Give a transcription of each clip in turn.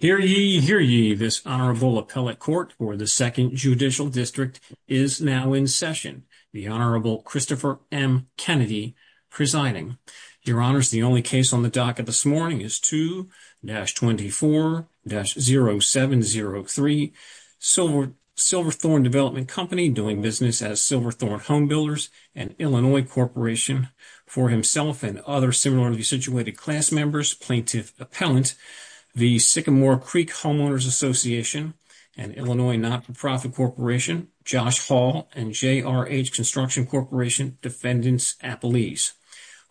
Hear ye, hear ye, this Honorable Appellate Court for the 2nd Judicial District is now in session, the Honorable Christopher M. Kennedy presiding. Your Honors, the only case on the docket this morning is 2-24-0703, Silverthorne Development Company, doing business as Silverthorne Home Builders, an Illinois corporation, for himself and other similarly situated class members, Plaintiff Appellant, the Sycamore Creek Homeowners Association, an Illinois not-for-profit corporation, Josh Hall, and J.R. H. Construction Corporation, Defendants Appellees.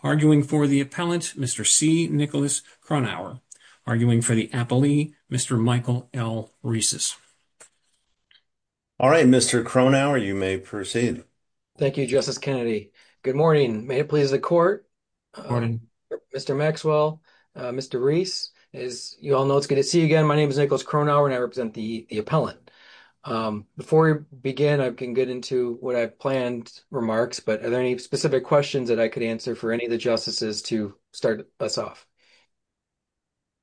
Arguing for the Appellant, Mr. C. Nicholas Kronauer. Arguing for the Appellee, Mr. Michael L. Rieses. All right, Mr. Kronauer, you may proceed. Thank you, Justice Kennedy. Good morning. May it please the Court. Morning. Mr. Maxwell, Mr. Rieses, as you all know, it's good to see you again. My name is Nicholas Kronauer, and I represent the Appellant. Before we begin, I can get into what I've planned remarks, but are there any specific questions that I could answer for any of the Justices to start us off?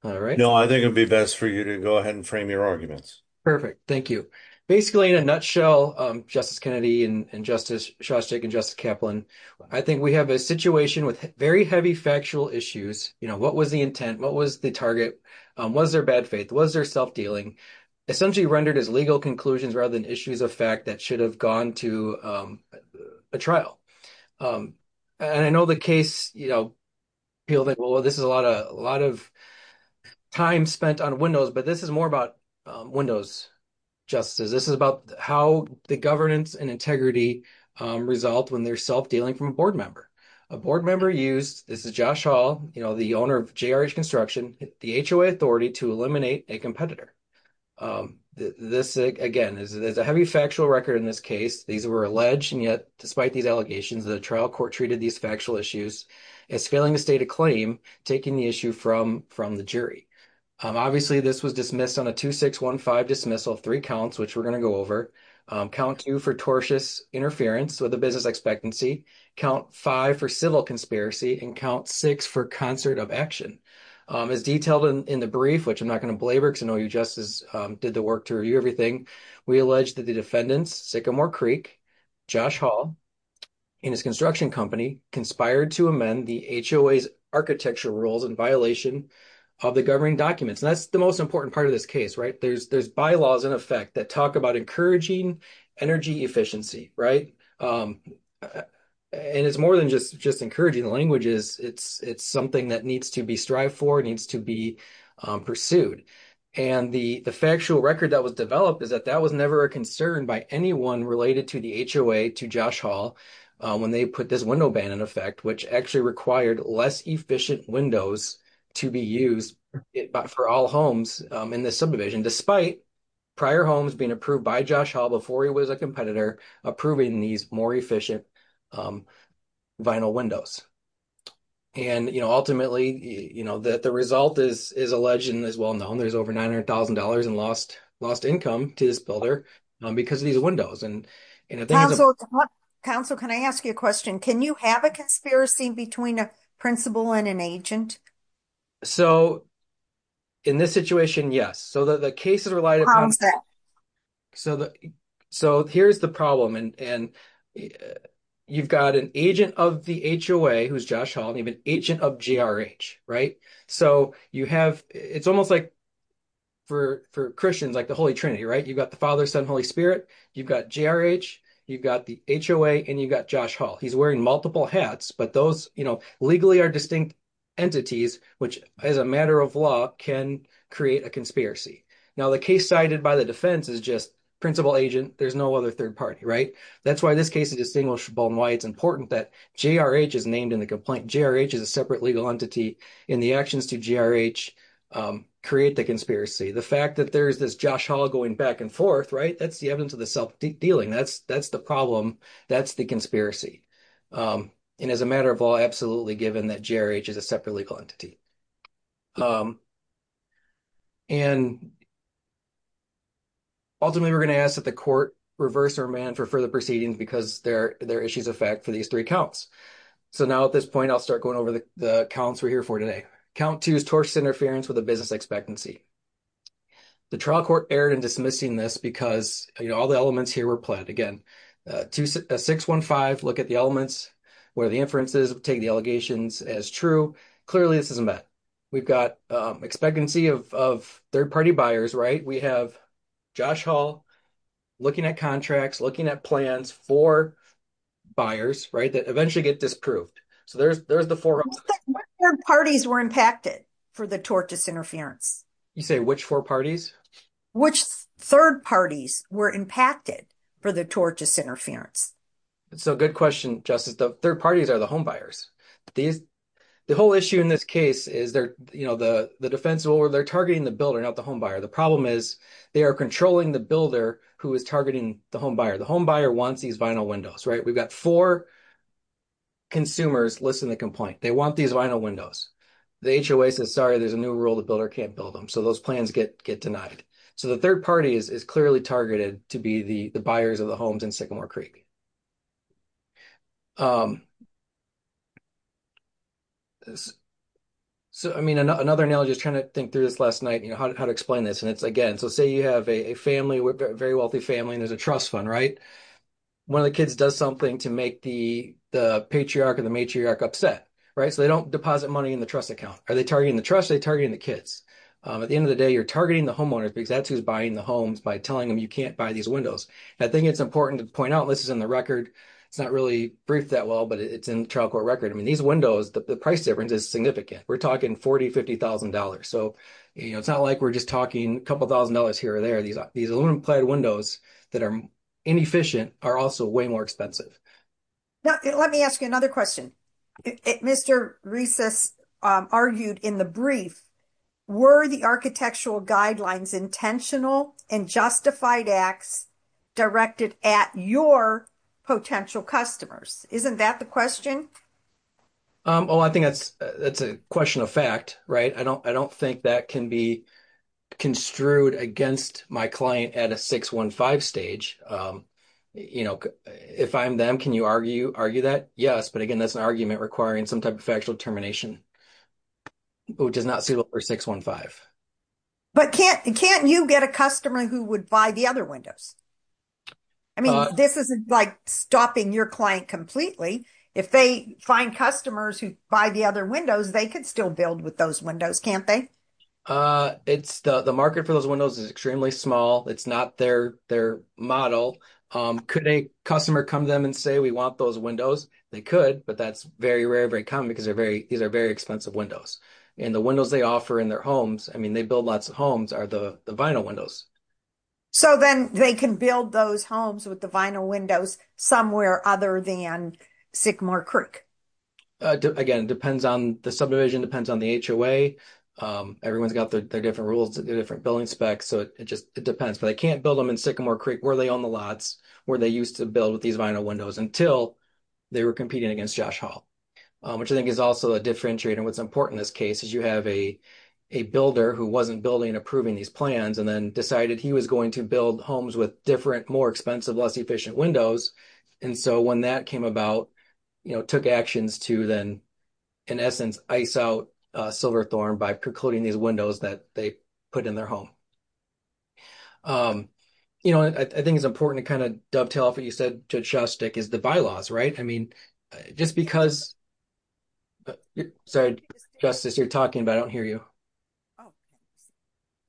All right. No, I think it'd be best for you to go ahead and frame your arguments. Perfect, thank you. Basically, in a nutshell, Justice Kennedy and Justice Shostak and Justice Kaplan, I think we have a situation with very heavy factual issues. What was the intent? What was the target? Was there bad faith? Was there self-dealing? Essentially rendered as legal conclusions rather than issues of fact that should have gone to a trial. I know the case, people think, well, this is a lot of time spent on Windows, but this is more about Windows, Justices. This is about how the governance and integrity result when they're self-dealing from a board member. A board member used, this is Josh Hall, the owner of JRH Construction, the HOA authority to eliminate a competitor. This, again, is a heavy factual record in this case. These were alleged, and yet, despite these allegations, the trial court treated these factual issues as failing to state a claim, taking the issue from the jury. Obviously, this was dismissed on a 2615 dismissal, three counts, which we're going to go over. Count two for tortious interference with the business expectancy, count five for civil conspiracy, and count six for concert of action. As detailed in the brief, which I'm not going to belabor because I know you, Justice, did the work to review everything, we allege that the defendants, Sycamore Creek, Josh Hall, and his construction company conspired to amend the HOA's architectural rules in violation of the governing documents. That's the most important part of this case. There's bylaws, in effect, that talk about encouraging energy efficiency. It's more than just encouraging, the language is it's something that needs to be strived for, needs to be pursued. The factual record that was developed is that that was never a concern by anyone related to the HOA to Josh Hall when they put this window ban, in effect, which actually required less efficient windows to be used for all homes in the subdivision, despite prior homes being approved by Josh Hall before he was a competitor, approving these more efficient vinyl windows. And, you know, ultimately, you know, that the result is alleged and is well known, there's over $900,000 in lost income to this builder because of these windows. Counsel, counsel, can I ask you a question? Can you have a conspiracy between a principal and an agent? So, in this situation, yes. So, the case is reliant. So, here's the problem. And you've got an agent of the HOA, who's Josh Hall, and you have an agent of GRH, right? So, you have, it's almost like for Christians, like the Holy Trinity, right? You've got the Father, Son, Holy Spirit, you've got GRH, you've got the HOA, and you've got Josh Hall. He's wearing multiple hats, but those, you know, legally are distinct entities, which, as a matter of law, can create a conspiracy. Now, the case cited by the defense is just principal, agent, there's no other third party, right? That's why this case is distinguishable and why it's important that GRH is named in the complaint. GRH is a separate legal entity in the actions to GRH create the conspiracy. The fact that there's this Josh Hall going back and forth, right? That's the evidence of the self-dealing. That's the problem. That's the conspiracy. And as a matter of law, absolutely given that GRH is a separate legal entity. And ultimately, we're going to ask that the court reverse their demand for further proceedings because they're issues of fact for these three counts. So, now at this point, I'll start going over the counts we're here for today. Count two is tortious interference with a business expectancy. The trial court erred in dismissing this because, you know, all the elements here were planned. Again, 615, look at the elements where the inferences take the allegations as true. Clearly, this isn't that. We've got expectancy of third party buyers, right? We have Josh Hall looking at contracts, looking at plans for buyers, right? That eventually get disproved. So, there's the four elements. What third parties were impacted for the tortious interference? You say which four parties? Which third parties were impacted for the tortious interference? So, good question, Justice. The third parties are the homebuyers. The whole issue in this case is they're, you know, the defensible or they're targeting the builder, not the homebuyer. The problem is they are controlling the builder who is targeting the homebuyer. The homebuyer wants these vinyl windows, right? We've got four consumers listing the complaint. They want these vinyl windows. The HOA says, sorry, there's a new rule. The builder can't build them. So, those plans get denied. So, the third party is clearly targeted to be the buyers of the homes in Sycamore Creek. So, I mean, another analogy, just trying to think through this last night, you know, how to explain this. And it's, again, so say you have a family, very wealthy family and there's a trust fund, right? One of the kids does something to make the patriarch or the matriarch upset, right? So, they don't deposit money in the trust account. Are they targeting the trust? They're targeting the kids. At the end of the day, you're targeting the homeowners because that's who's buying the homes by telling them you can't buy these windows. I think it's important to point out, this is in the record. It's not really briefed that well, but it's in the trial court record. I mean, these windows, the price difference is significant. We're talking $40,000, $50,000. So, you know, it's not like we're just talking a couple thousand dollars here or there. These aluminum plated windows that are inefficient are also way more expensive. Now, let me ask you another question. Mr. Recess argued in the brief, were the architectural guidelines intentional and justified acts directed at your potential customers? Isn't that the question? Oh, I think that's a question of fact, right? I don't think that can be construed against my client at a 615 stage. If I'm them, can you argue that? Yes, but again, that's an argument requiring some type of factual determination, which is not suitable for 615. But can't you get a customer who would buy the other windows? I mean, this isn't like stopping your client completely. If they find customers who buy the other windows, they could still build with those windows, can't they? The market for those windows is extremely small. It's not their model. Could a customer come to them and say, we want those windows? They could, but that's very rare, very common because these are very expensive windows. And the windows they offer in their homes, I mean, they build lots of homes, are the vinyl windows. So then they can build those homes with the vinyl windows somewhere other than Sycamore Creek? Again, it depends on the subdivision, depends on the HOA. Everyone's got their different rules, different building specs, so it just depends. But they can't build them in Sycamore Creek where they own the lots, where they used to build with these vinyl windows until they were competing against Josh Hall, which I think is also a differentiator. What's important in this case is you have a builder who wasn't building and approving these plans and then decided he was going to build homes with different, more expensive, less efficient windows. And so when that came about, took actions to then, in essence, ice out Silverthorne by precluding these windows that they put in their home. I think it's important to kind of dovetail off what you said, Judge Shostek, is the bylaws, right? I mean, just because... Sorry, Justice, you're talking, but I don't hear you.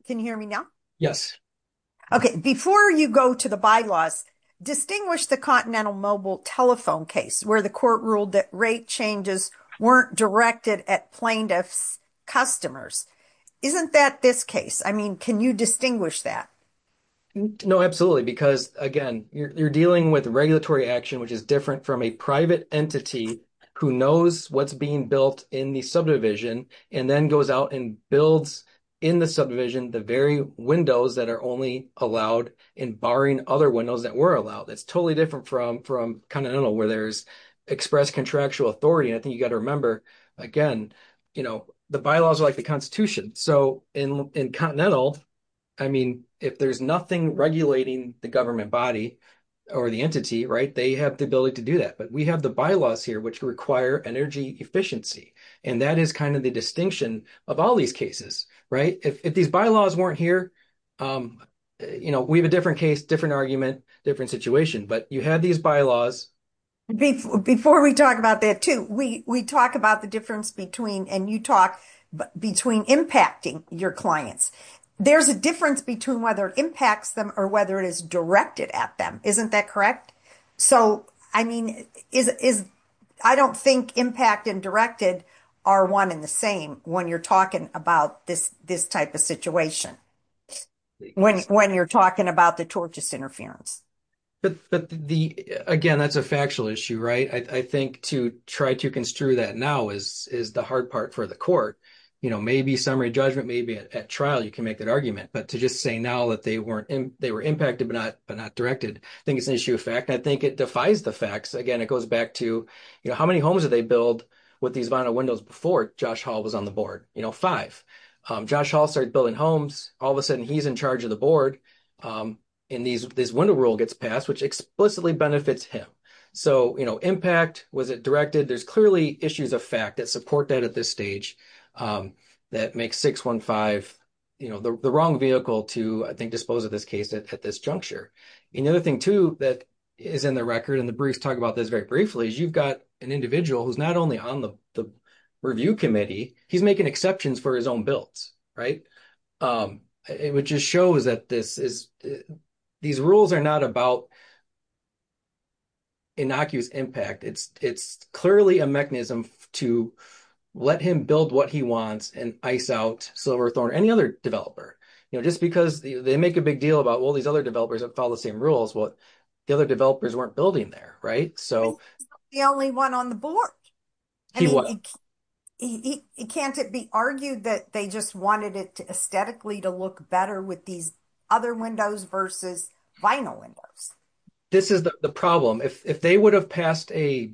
Can you hear me now? Yes. Okay, before you go to the bylaws, distinguish the Continental Mobile Telephone case where the court ruled that rate changes weren't directed at plaintiff's customers. Isn't that this case? I mean, can you distinguish that? No, absolutely, because again, you're dealing with regulatory action, which is different from a private entity who knows what's being built in the subdivision and then goes out and builds in the subdivision the very windows that are only allowed and barring other windows that were allowed. It's totally different from Continental where there's express contractual authority. And I think you got to remember, again, the bylaws are like the Constitution. So in Continental, I mean, if there's nothing regulating the government body or the entity, right, they have the ability to do that. But we bylaws here which require energy efficiency. And that is kind of the distinction of all these cases, right? If these bylaws weren't here, you know, we have a different case, different argument, different situation. But you have these bylaws. Before we talk about that too, we talk about the difference between, and you talk, between impacting your clients. There's a difference between whether it impacts them or whether it is directed at them. Isn't that correct? So, I mean, I don't think impact and directed are one and the same when you're talking about this type of situation, when you're talking about the tortious interference. But again, that's a factual issue, right? I think to try to construe that now is the hard part for the court. You know, maybe summary judgment, maybe at trial you can make that argument. But to just say now that they were impacted but not directed, I think it's an issue and I think it defies the facts. Again, it goes back to, you know, how many homes did they build with these vinyl windows before Josh Hall was on the board? You know, five. Josh Hall started building homes, all of a sudden he's in charge of the board and this window rule gets passed which explicitly benefits him. So, you know, impact, was it directed? There's clearly issues of fact that support that at this stage that makes 615, you know, the wrong vehicle to, I think, dispose of this case at this juncture. And the other thing too that is in the record, and the briefs talk about this very briefly, is you've got an individual who's not only on the review committee, he's making exceptions for his own builds, right? Which just shows that these rules are not about innocuous impact. It's clearly a mechanism to let him build what he wants and ice out Silverthorne or any other developer. You know, just because they make a big deal about, well, other developers that follow the same rules, well, the other developers weren't building there, right? So... He's not the only one on the board. Can't it be argued that they just wanted it to aesthetically to look better with these other windows versus vinyl windows? This is the problem. If they would have passed a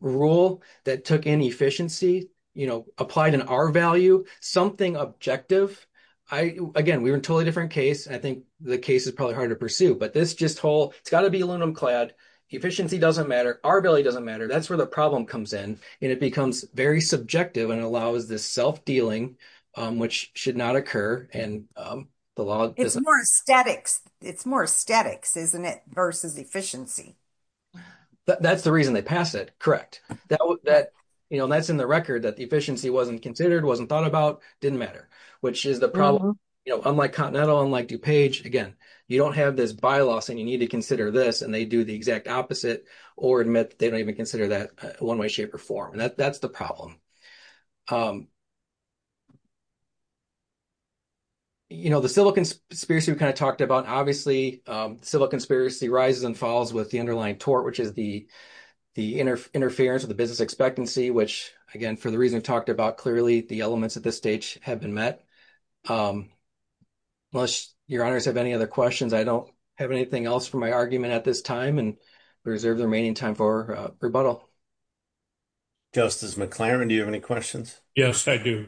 rule that took in efficiency, you know, applied an R value, something objective, again, we were in a totally different case. I think the case is probably hard to pursue, but this just whole... It's got to be aluminum clad. Efficiency doesn't matter. R value doesn't matter. That's where the problem comes in. And it becomes very subjective and allows this self dealing, which should not occur. And the law... It's more aesthetics, isn't it? Versus efficiency. That's the reason they pass it. Correct. That's in the record that the efficiency wasn't considered, wasn't thought about, didn't matter, which is the problem. Unlike Continental, unlike DuPage, again, you don't have this bylaws and you need to consider this and they do the exact opposite or admit that they don't even consider that one way, shape, or form. And that's the problem. The civil conspiracy we kind of talked about, obviously, civil conspiracy rises and falls with the underlying tort, which is the interference with the business expectancy, which again, the reason we talked about clearly the elements at this stage have been met. Unless your honors have any other questions, I don't have anything else for my argument at this time and reserve the remaining time for rebuttal. Justice McLaren, do you have any questions? Yes, I do.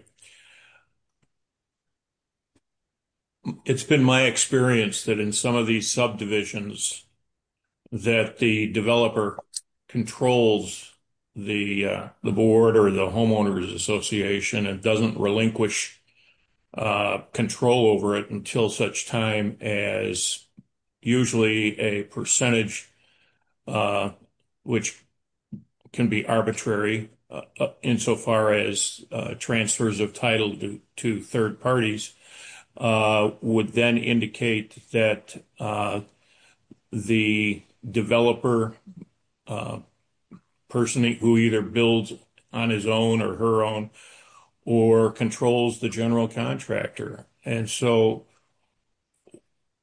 It's been my experience that in some of these subdivisions that the developer controls the board or the homeowners association and doesn't relinquish control over it until such time as usually a percentage, which can be arbitrary insofar as transfers of title to third parties, would then indicate that the developer is a person who either builds on his own or her own or controls the general contractor. And so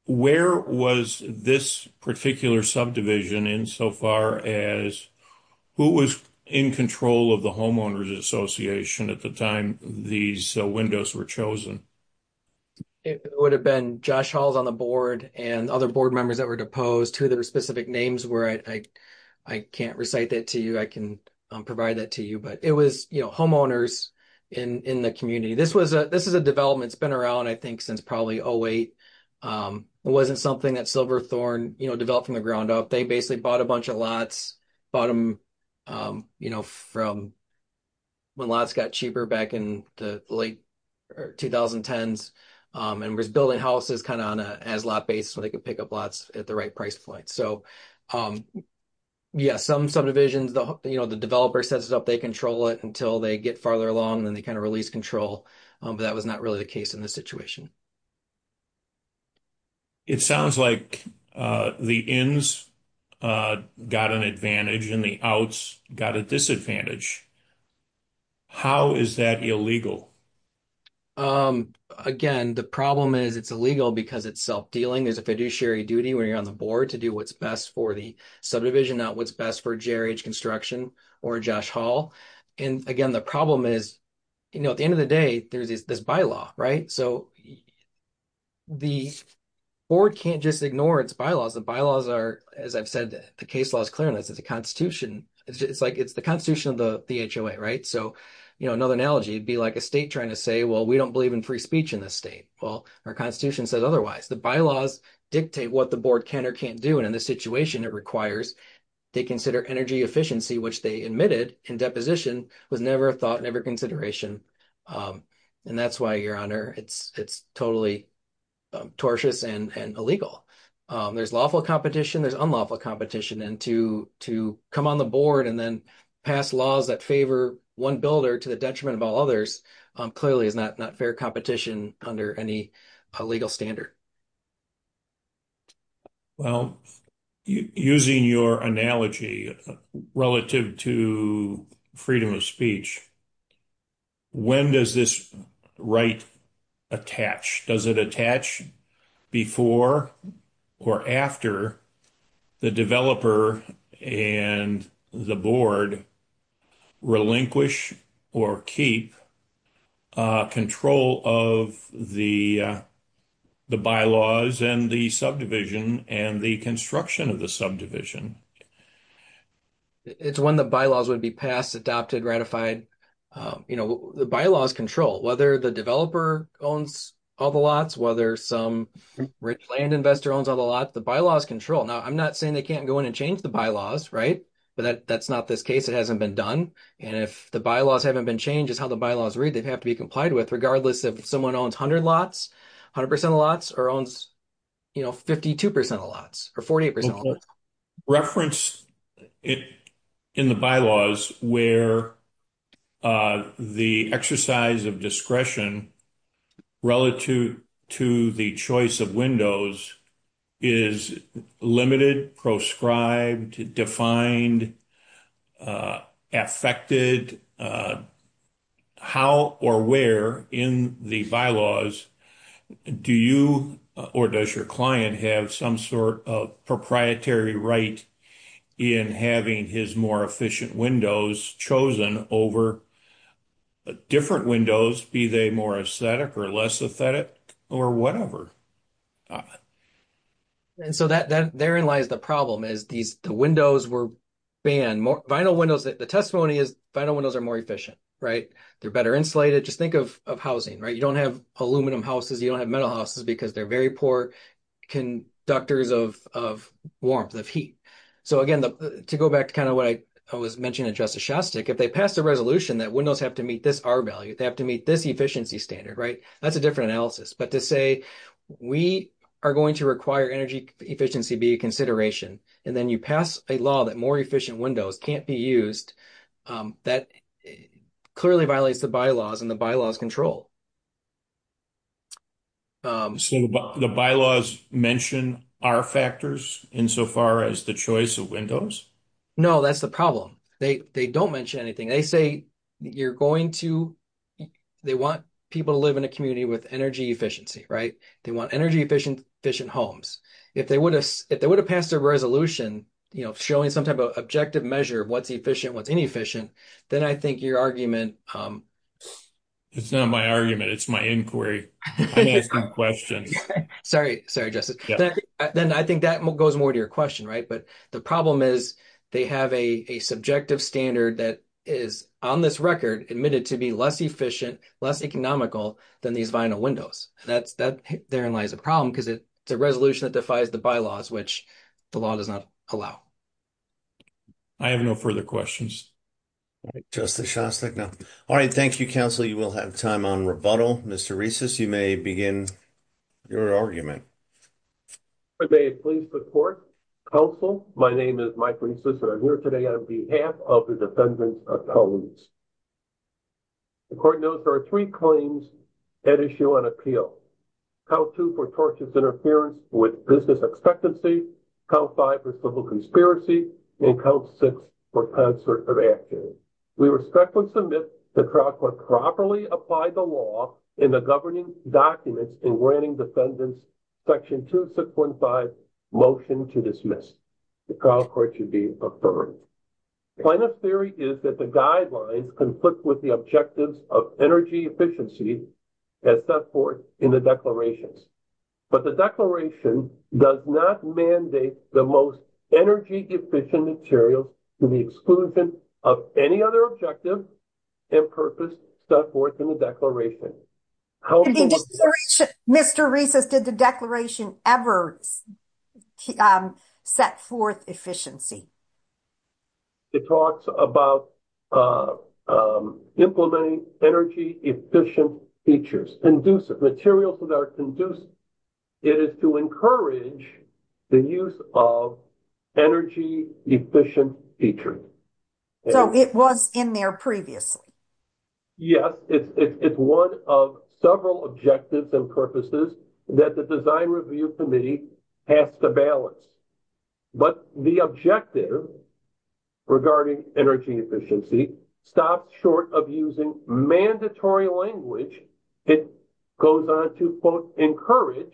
where was this particular subdivision insofar as who was in control of the homeowners association at the time these windows were chosen? It would have been Josh Halls on the board and other members that were deposed, who their specific names were. I can't recite that to you. I can provide that to you, but it was homeowners in the community. This is a development that's been around, I think, since probably 08. It wasn't something that Silverthorne developed from the ground up. They basically bought a bunch of lots, bought them from when lots got cheaper back in the 2010s, and was building houses kind of on an as-lot basis so they could pick up lots at the right price point. So yeah, some subdivisions, the developer sets it up, they control it until they get farther along and then they kind of release control, but that was not really the case in this situation. It sounds like the ins got an advantage and the outs got a disadvantage. How is that illegal? Again, the problem is it's illegal because it's self-dealing. There's a fiduciary duty when you're on the board to do what's best for the subdivision, not what's best for JRH Construction or Josh Hall. And again, the problem is, you know, at the end of the day, there's this bylaw, right? So the board can't just ignore its bylaws. The bylaws are, as I've said, the case law is clear on this. It's the constitution of the HOA, right? So another analogy would be like a state trying to say, well, we don't believe in free speech in this state. Well, our constitution says otherwise. The bylaws dictate what the board can or can't do, and in this situation, it requires they consider energy efficiency, which they admitted in deposition was never a thought, never a consideration. And that's why, Your Honor, it's totally tortious and illegal. There's lawful competition, there's unlawful competition. And to come on the board and then pass laws that favor one builder to the detriment of all others clearly is not fair competition under any legal standard. Well, using your analogy relative to freedom of speech, when does this right attach? Does it attach before or after the developer and the board relinquish or keep control of the bylaws and the subdivision and the construction of the subdivision? It's when the bylaws would be passed, adopted, ratified. The bylaws control whether the developer owns all the lots, whether some rich land investor owns all the lots, the bylaws control. Now, I'm not saying they can't go in and change the bylaws, right? But that's not this case, it hasn't been done. And if the bylaws haven't been changed, it's how the bylaws read, they'd have to be complied with regardless if someone owns 100% of lots or owns 52% of lots or 48% of lots. Reference in the bylaws where the exercise of discretion relative to the choice of windows is limited, proscribed, defined, affected, how or where in the bylaws do you or does your client have some sort of proprietary right in having his more efficient windows chosen over different windows, be they more aesthetic or less aesthetic or whatever? And so therein lies the problem is these windows were banned. The testimony is vinyl windows are more efficient, right? They're better insulated. Just think of housing, right? You don't have aluminum houses, you don't have metal houses because they're very poor conductors of warmth, of heat. So again, to go back to kind of what I was mentioning to Justice Shostak, if they pass a resolution that windows have to meet this R value, they have to meet this efficiency standard, right? That's a different analysis. But to say we are going to require energy efficiency be a consideration, and then you pass a law that more efficient windows can't be used, that clearly violates the bylaws and the bylaws control. So the bylaws mention R factors insofar as the choice of windows? No, that's the problem. They don't mention anything. They say you're going to, they want people to live in a community with energy efficiency, right? They want energy efficient homes. If they would have passed a resolution, you know, showing some type of objective measure of what's efficient, what's inefficient, then I think your argument... It's not my argument. It's my inquiry. I'm asking questions. Sorry. Sorry, Justice. Then I think that goes more to your question, right? But the problem is they have a subjective standard that is on this record admitted to be less efficient, less economical than these vinyl windows. That therein lies a problem because it's a resolution that defies the bylaws, which the law does not allow. I have no further questions. Justice Shostak, no. All right. Thank you, counsel. You will have time on rebuttal. Mr. Reeses, you may begin your argument. I may please report. Counsel, my name is Mike Reeses and I'm here today on behalf of the defendants' attorneys. The court notes there are three claims at issue on appeal. Count two for tortious interference with business expectancy, count five for civil conspiracy, and count six for concerted activity. We respectfully submit the trial court properly applied the law in the governing documents in granting defendants section 2615 motion to dismiss. The trial court should be affirmed. Plaintiff's theory is that the guidelines conflict with the objectives of energy efficiency as set forth in the declarations. But the declaration does not mandate the most energy efficient material to the exclusion of any other objective and purpose set forth in the declaration. Mr. Reeses, did the declaration ever set forth efficiency? It talks about implementing energy efficient features, materials that are conducive. It is to encourage the use of energy efficient features. So it was in there previously? Yes. It's one of several objectives and purposes that the design review committee has to balance. But the objective regarding energy efficiency stopped short of using mandatory language. It goes on to, quote, encourage,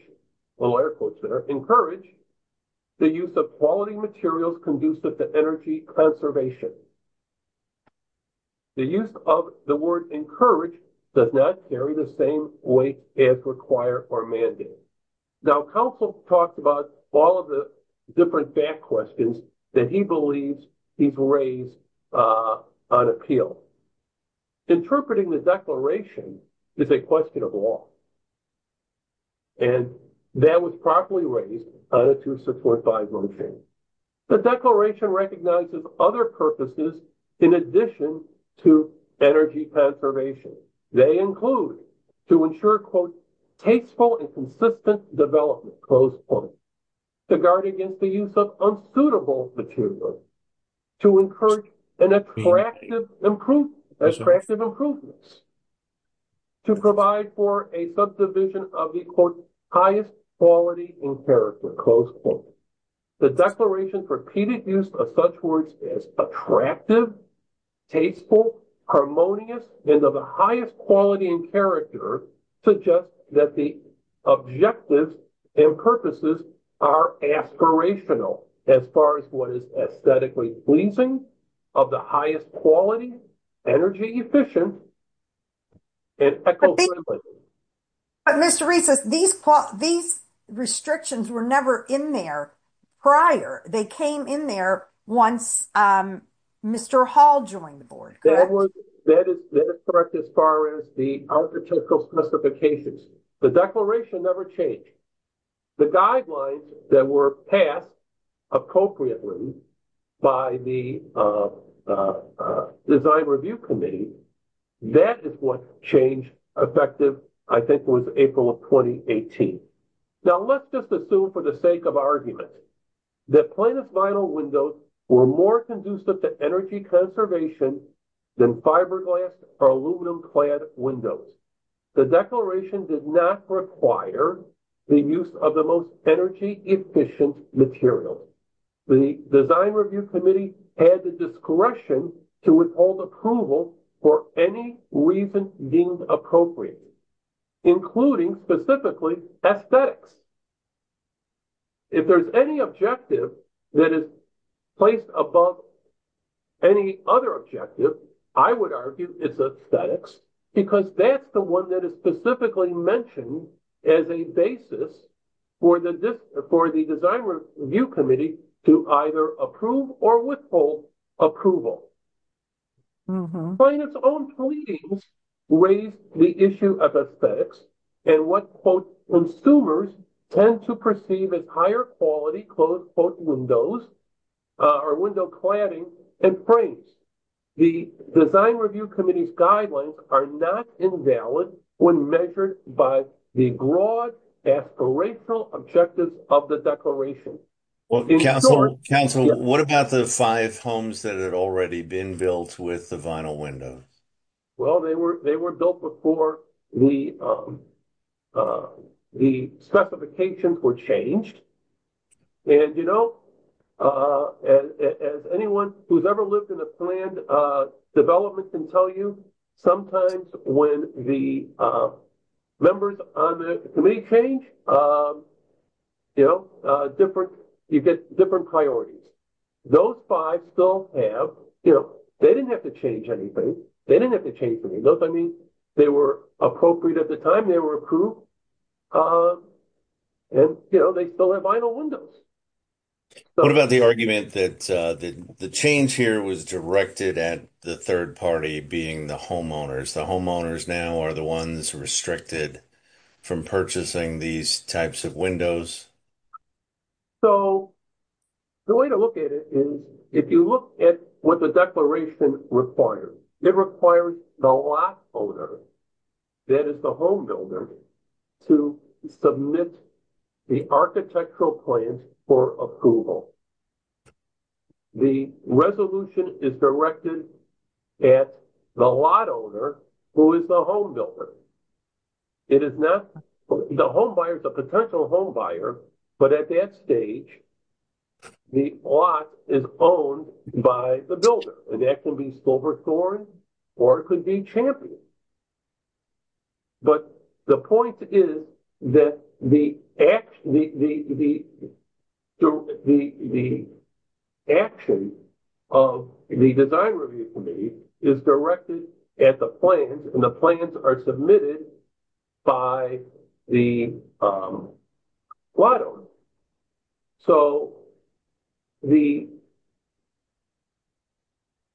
little air quotes there, encourage the use of quality materials conducive to energy conservation. The use of the word encourage does not carry the same weight as require or mandate. Now, counsel talks about all of the different back questions that he believes he's raised on appeal. Interpreting the declaration is a question of law. And that was properly raised on a 2645 motion. The declaration recognizes other purposes in addition to energy conservation. They include to ensure, quote, tasteful and consistent development, close point, to guard against the use of unsuitable materials, to encourage an attractive improvement, attractive improvements, to provide for a subdivision of the, quote, highest quality in character, close point. The declaration's repeated use of such words as attractive, tasteful, harmonious, and of the highest quality and character suggests that the objectives and purposes are aspirational as far as what is aesthetically pleasing, of the highest quality, energy efficient, and eco-friendly. But Mr. Reese, these restrictions were never in there prior. They came in there once Mr. Hall joined the board, correct? That is correct as far as the architectural specifications. The declaration never changed. The guidelines that were passed appropriately by the design review committee, that is what changed effective, I think, was April of 2018. Now let's just assume for the sake of argument that planus vinyl windows were more conducive to energy conservation than fiberglass or aluminum clad windows. The declaration did not require the use of the most energy efficient materials. The design review committee had the discretion to withhold approval for any reason deemed appropriate, including specifically aesthetics. If there's any objective that is placed above any other objective, I would argue it's aesthetics because that's the one that is specifically mentioned as a basis for the design review committee to either approve or withhold approval. Planus' own pleadings raised the issue of aesthetics and what consumers tend to perceive as higher quality windows or window cladding and frames. The design review committee's guidelines are not invalid when measured by the broad aspirational objectives of the declaration. Council, what about the five homes that had already been built with the vinyl windows? Well, they were built before the specifications were changed. As anyone who's ever lived in a planned development can tell you, sometimes when the members on the committee change, you get different priorities. Those five still have, you know, they didn't have to change anything. They didn't have to change anything. Those I mean, they were appropriate at the time, they were approved, and they still have vinyl windows. What about the argument that the change here was directed at the third party being the homeowners, the homeowners now are the ones restricted from purchasing these types of windows? So the way to look at it is if you look at what the declaration requires, it requires the lot owner, that is the home builder, to submit the architectural plan for approval. The resolution is directed at the lot owner, who is the home builder. It is not the home buyer, the potential home buyer, but at that stage, the lot is owned by the builder. It can be silver the action of the design review committee is directed at the plans, and the plans are submitted by the lot owner. So the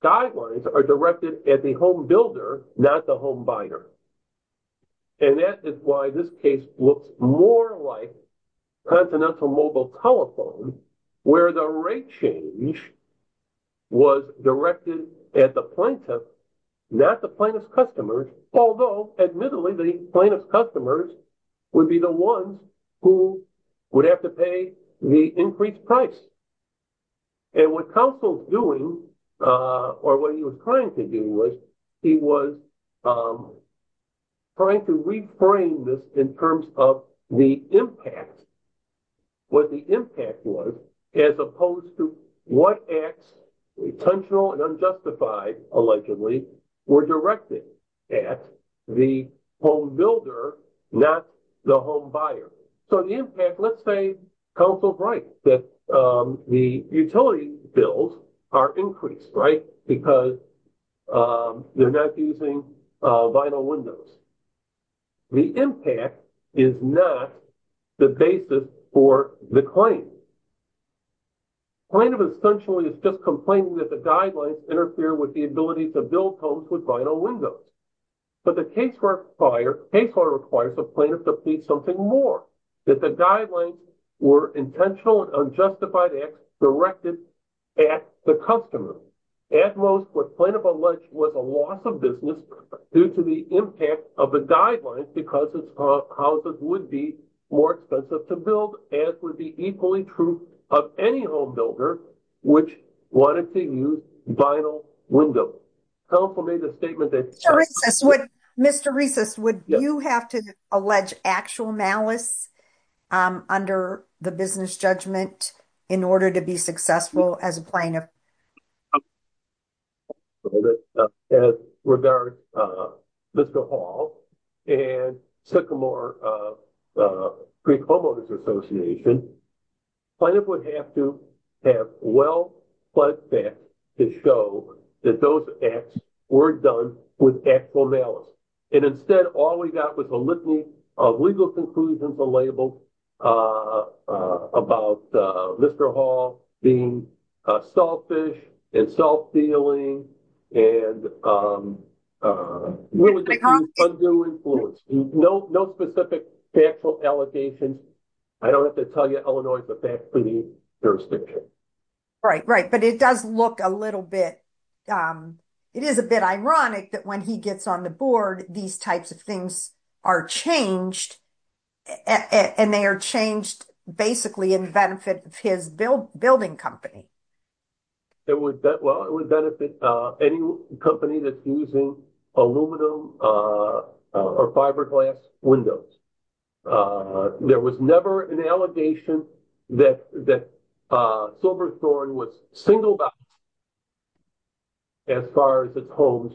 guidelines are directed at the home builder, not the home buyer. And that is why this case looks more like Continental Mobile Telephone, where the rate change was directed at the plaintiff, not the plaintiff's customers, although admittedly, the plaintiff's customers would be the ones who would have to pay the increased price. And what counsel's doing, or what he was trying to do was, he was trying to reframe this in terms of the impact, what the impact was, as opposed to what acts, intentional and unjustified, allegedly, were directed at the home builder, not the home buyer. So the impact, let's say counsel's right, that the utility bills are increased, right, because they're not using vinyl windows. The impact is not the basis for the claim. Plaintiff essentially is just complaining that the guidelines interfere with the ability to build homes with vinyl windows. But the case requires the plaintiff to plead something more, that the guidelines were intentional and unjustified acts directed at the customer. At most, the plaintiff alleged was a loss of business due to the impact of the guidelines, because his houses would be more expensive to build, as would be equally true of any home builder which wanted to use vinyl windows. Counsel made a statement that... Mr. Reeses, would you have to allege actual malice under the business judgment in order to be successful as a plaintiff? As regards Mr. Hall and Sycamore Creek Home Owners Association, plaintiff would have to well-fledged facts to show that those acts were done with actual malice. And instead, all we got was a litany of legal conclusions and labels about Mr. Hall being selfish and self-feeling and... No specific factual allegations. I don't have to tell you, Illinois, but that's pretty jurisdiction. Right, right. But it does look a little bit... It is a bit ironic that when he gets on the board, these types of things are changed, and they are changed basically in benefit of his building company. It would benefit any company that's using aluminum or fiberglass windows. There was never an allegation that Silverthorne was single-backed as far as its homes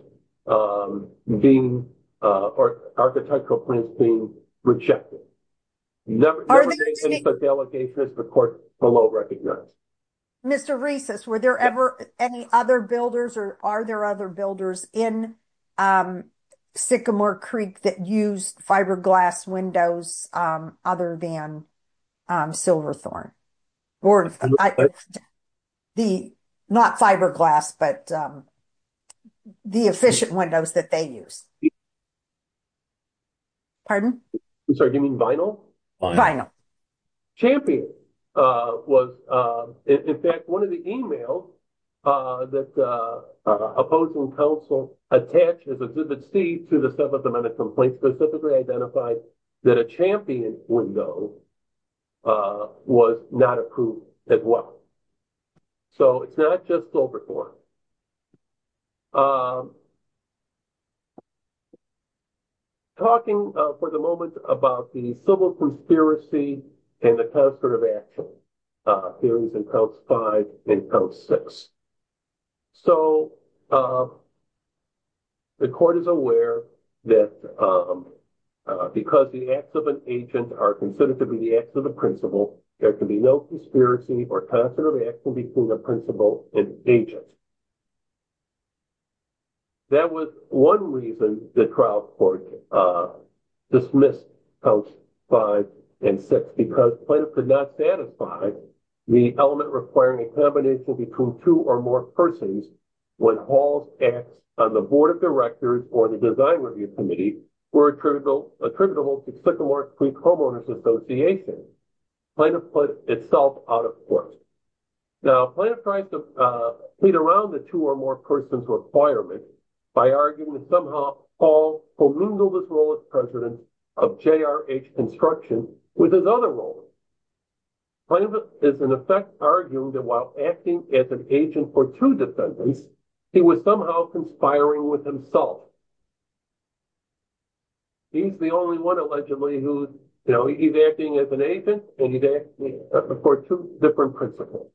being, or architectural plans being rejected. The allegation is, of course, below recognized. Mr. Reeses, were there ever any other builders, are there other builders in Sycamore Creek that used fiberglass windows other than Silverthorne? The not fiberglass, but the efficient windows that they use. Pardon? I'm sorry, do you mean vinyl? Vinyl. Champion was... In fact, one of the emails that opposing counsel attached as a visit see to the sub-submitted complaint specifically identified that a champion window was not approved as well. So it's not just Silverthorne. Okay. Talking for the moment about the civil conspiracy and the conservative action theories in Counts 5 and Counts 6. So the court is aware that because the acts of an agent are considered to be the acts of a principal, there can be no conspiracy or conservative action between the principal and agent. That was one reason the trial court dismissed Counts 5 and 6, because Plaintiff could not satisfy the element requiring a combination between two or more persons when Hall's acts on the Board of Directors or the Design Review Committee were attributable to Sycamore Creek Homeowners Association. Plaintiff put itself out of court. Now, Plaintiff tried to feed around the two or more persons requirements by arguing that somehow Hall will mingle this role as president of JRH Construction with his other roles. Plaintiff is in effect arguing that while acting as an agent for two defendants, he was somehow conspiring with himself. He's the only one allegedly who's, you know, he's acting as an agent and he's acting for two different principals.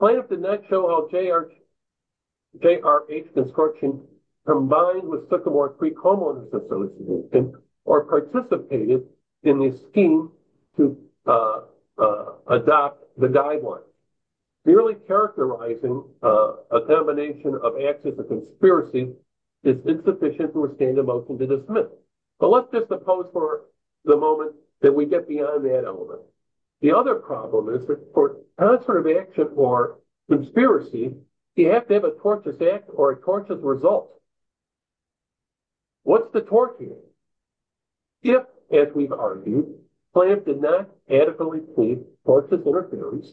Plaintiff did not show how JRH Construction combined with Sycamore Creek Homeowners Association or participated in the scheme to adopt the guidelines. Merely characterizing a combination of acts of a conspiracy is insufficient to withstand a motion to dismiss. But let's just suppose for the moment that we get beyond that element. The other problem is that for transfer of action or conspiracy, you have to have a tortious act or a tortious result. What's the tort here? If, as we've argued, Plaintiff did not adequately plead tortious interference,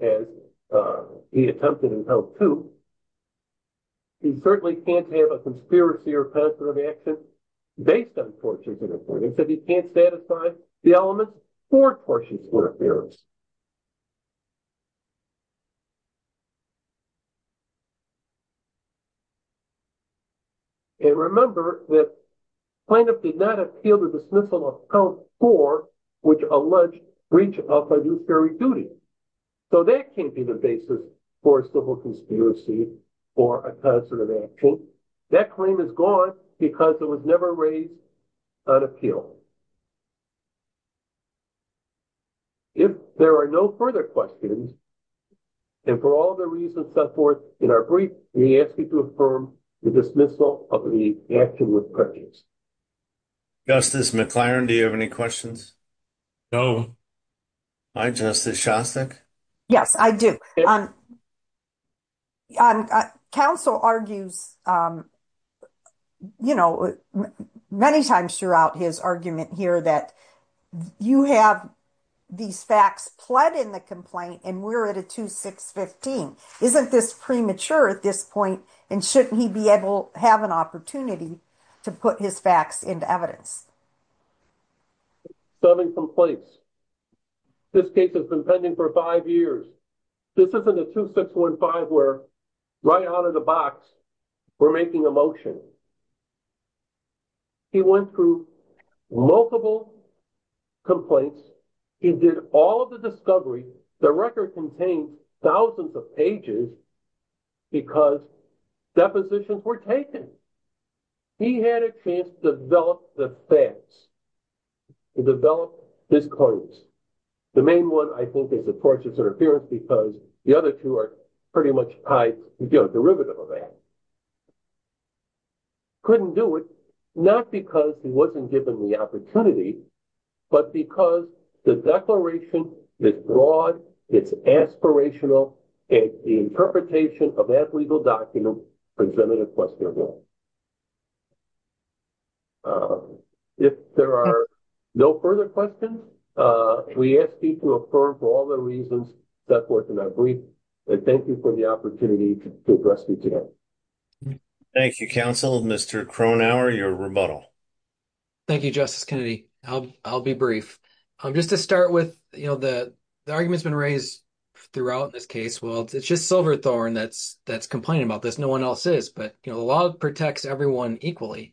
as he attempted in House 2, he certainly can't have a conspiracy or a concert of actions based on tortious interference. If he can't satisfy the elements, for tortious interference. And remember that Plaintiff did not appeal to dismissal of count four, which alleged breach of fiduciary duty. So that can't be the basis for a civil conspiracy received for a concert of actions. That claim is gone because it was never raised on appeal. If there are no further questions, and for all the reasons set forth in our brief, we ask you to affirm the dismissal of the action with prejudice. Justice McLaren, do you have any questions? No. Hi, Justice Shostak. Yes, I do. Council argues, you know, many times throughout his argument here that you have these facts pled in the complaint, and we're at a 2-6-15. Isn't this premature at this point? And shouldn't he be able to have an opportunity to put his facts into evidence? Seven complaints. This case has been pending for five years. This isn't a 2-6-15 where right out of the box, we're making a motion. He went through multiple complaints. He did all of the discovery. The record contained thousands of pages because depositions were taken. He had a chance to develop the facts, to develop his claims. The main one, I think, is a tortious interference because the other two are pretty much tied, you know, derivative of that. Couldn't do it, not because he wasn't given the opportunity, but because the declaration is broad, it's aspirational, and the interpretation of that legal document presented a question of law. If there are no further questions, we ask you to affirm for all the reasons set forth in that brief, and thank you for the opportunity to address me today. Thank you, counsel. Mr. Cronauer, your rebuttal. Thank you, Justice Kennedy. I'll be brief. Just to start with, you know, the argument's been raised throughout this case. Well, it's just Silverthorne that's complaining about this. No one else is, but, you know, the law protects everyone equally.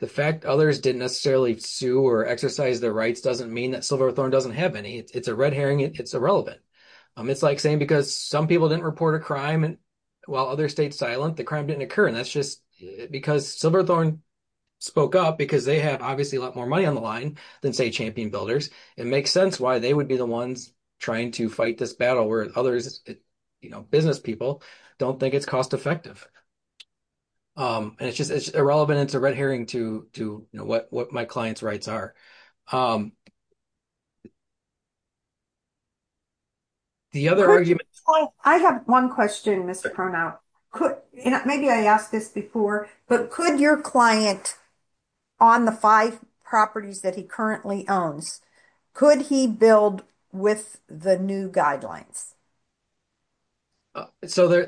The fact others didn't necessarily sue or exercise their rights doesn't mean that Silverthorne doesn't have any. It's a red herring. It's irrelevant. It's like saying because some people didn't report a crime while others stayed silent, the crime didn't occur, and that's just because Silverthorne spoke up because they have obviously a lot more money on the line than, say, Champion Builders. It makes sense why they would be the ones trying to fight this battle where others, you know, business people don't think it's cost-effective, and it's just irrelevant. It's a red herring to, you know, what my client's rights are. I have one question, Mr. Cronaut. Maybe I asked this before, but could your client, on the five properties that he currently owns, could he build with the new guidelines? So,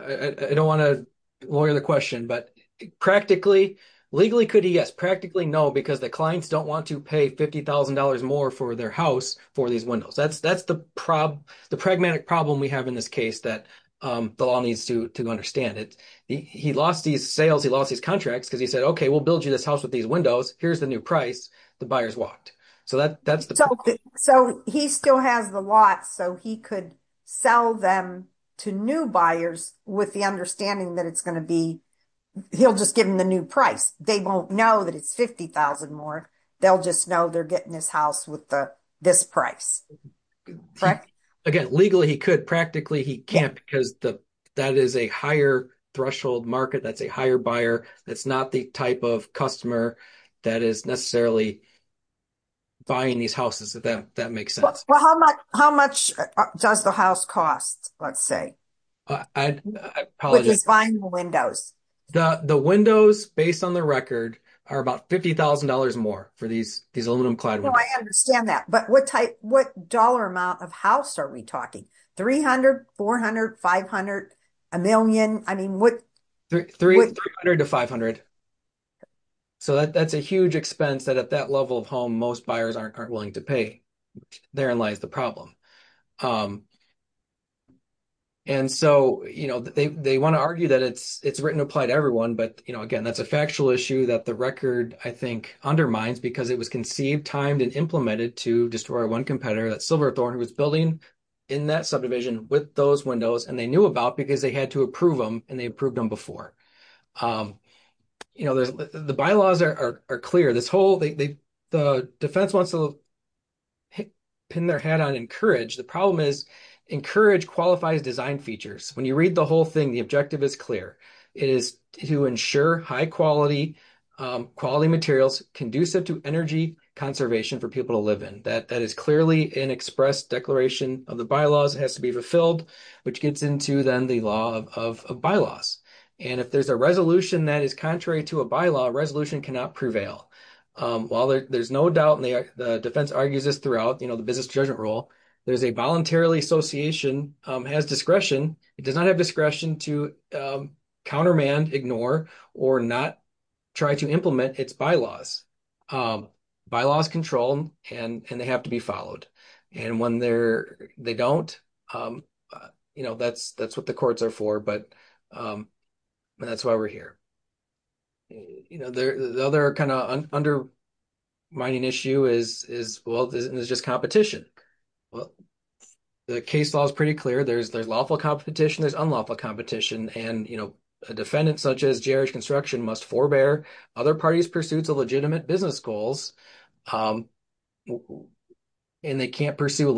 I don't want to lawyer the question, but practically, legally, could he? Yes. Practically, no, because the clients don't want to pay $50,000 more for their house for these windows. That's the pragmatic problem we have in this case that the law needs to understand. He lost these sales. He lost his contracts because he said, okay, we'll build you this house with these windows. Here's the new price. The buyers walked. So, he still has the lot, so he could sell them to new buyers with the understanding that he'll just give them the new price. They won't know that it's $50,000 more. They'll just know they're getting this house with this price, correct? Again, legally, he could. Practically, he can't because that is a higher threshold market. That's a higher buyer. That's not the type of customer that is necessarily buying these houses, if that makes sense. Well, how much does the house cost, let's say? I apologize. Which is buying the The windows, based on the record, are about $50,000 more for these aluminum-clad windows. I understand that, but what dollar amount of house are we talking? $300,000, $400,000, $500,000, $1,000,000? $300,000 to $500,000. That's a huge expense that at that level of home, most buyers aren't willing to pay. Therein lies the problem. Again, that's a factual issue that the record undermines because it was conceived, timed, and implemented to destroy one competitor that Silverthorne was building in that subdivision with those windows. They knew about it because they had to approve them, and they approved them before. The bylaws are clear. The defense wants to pin their hat on encourage. The problem is, encourage qualifies design features. When you read the whole thing, the objective is clear. It is to ensure high-quality materials conducive to energy conservation for people to live in. That is clearly an express declaration of the bylaws. It has to be fulfilled, which gets into, then, the law of bylaws. If there's a resolution that is contrary to a bylaw, resolution cannot prevail. While there's no doubt, and the defense argues this throughout the business judgment rule, there's a voluntary association that has discretion. It does not have discretion to countermand, ignore, or not try to implement its bylaws. Bylaws control, and they have to be followed. When they don't, that's what the courts are for. That's why we're here. The other undermining issue is competition. The case law is pretty clear. There's lawful competition. There's unlawful competition. A defendant, such as JRH Construction, must forebear other parties' pursuits of legitimate business goals, and they can't pursue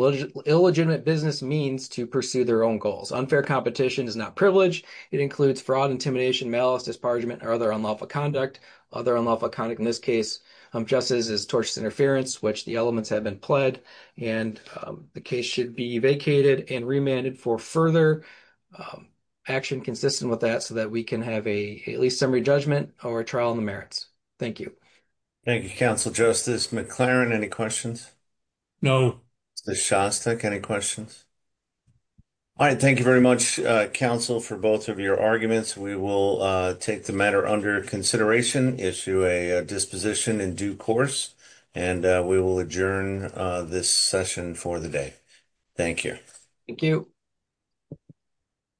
illegitimate business means to pursue their own goals. Unfair competition is not privileged. It includes fraud, intimidation, malice, disbargement, or other unlawful conduct. Other unlawful conduct in this case, just as is tortious interference, which the elements have been pled, and the case should be vacated and remanded for further action consistent with that so that we can have at least summary judgment or a trial in the merits. Thank you. Thank you, very much, counsel, for both of your arguments. We will take the matter under consideration, issue a disposition in due course, and we will adjourn this session for the day. Thank you. Thank you.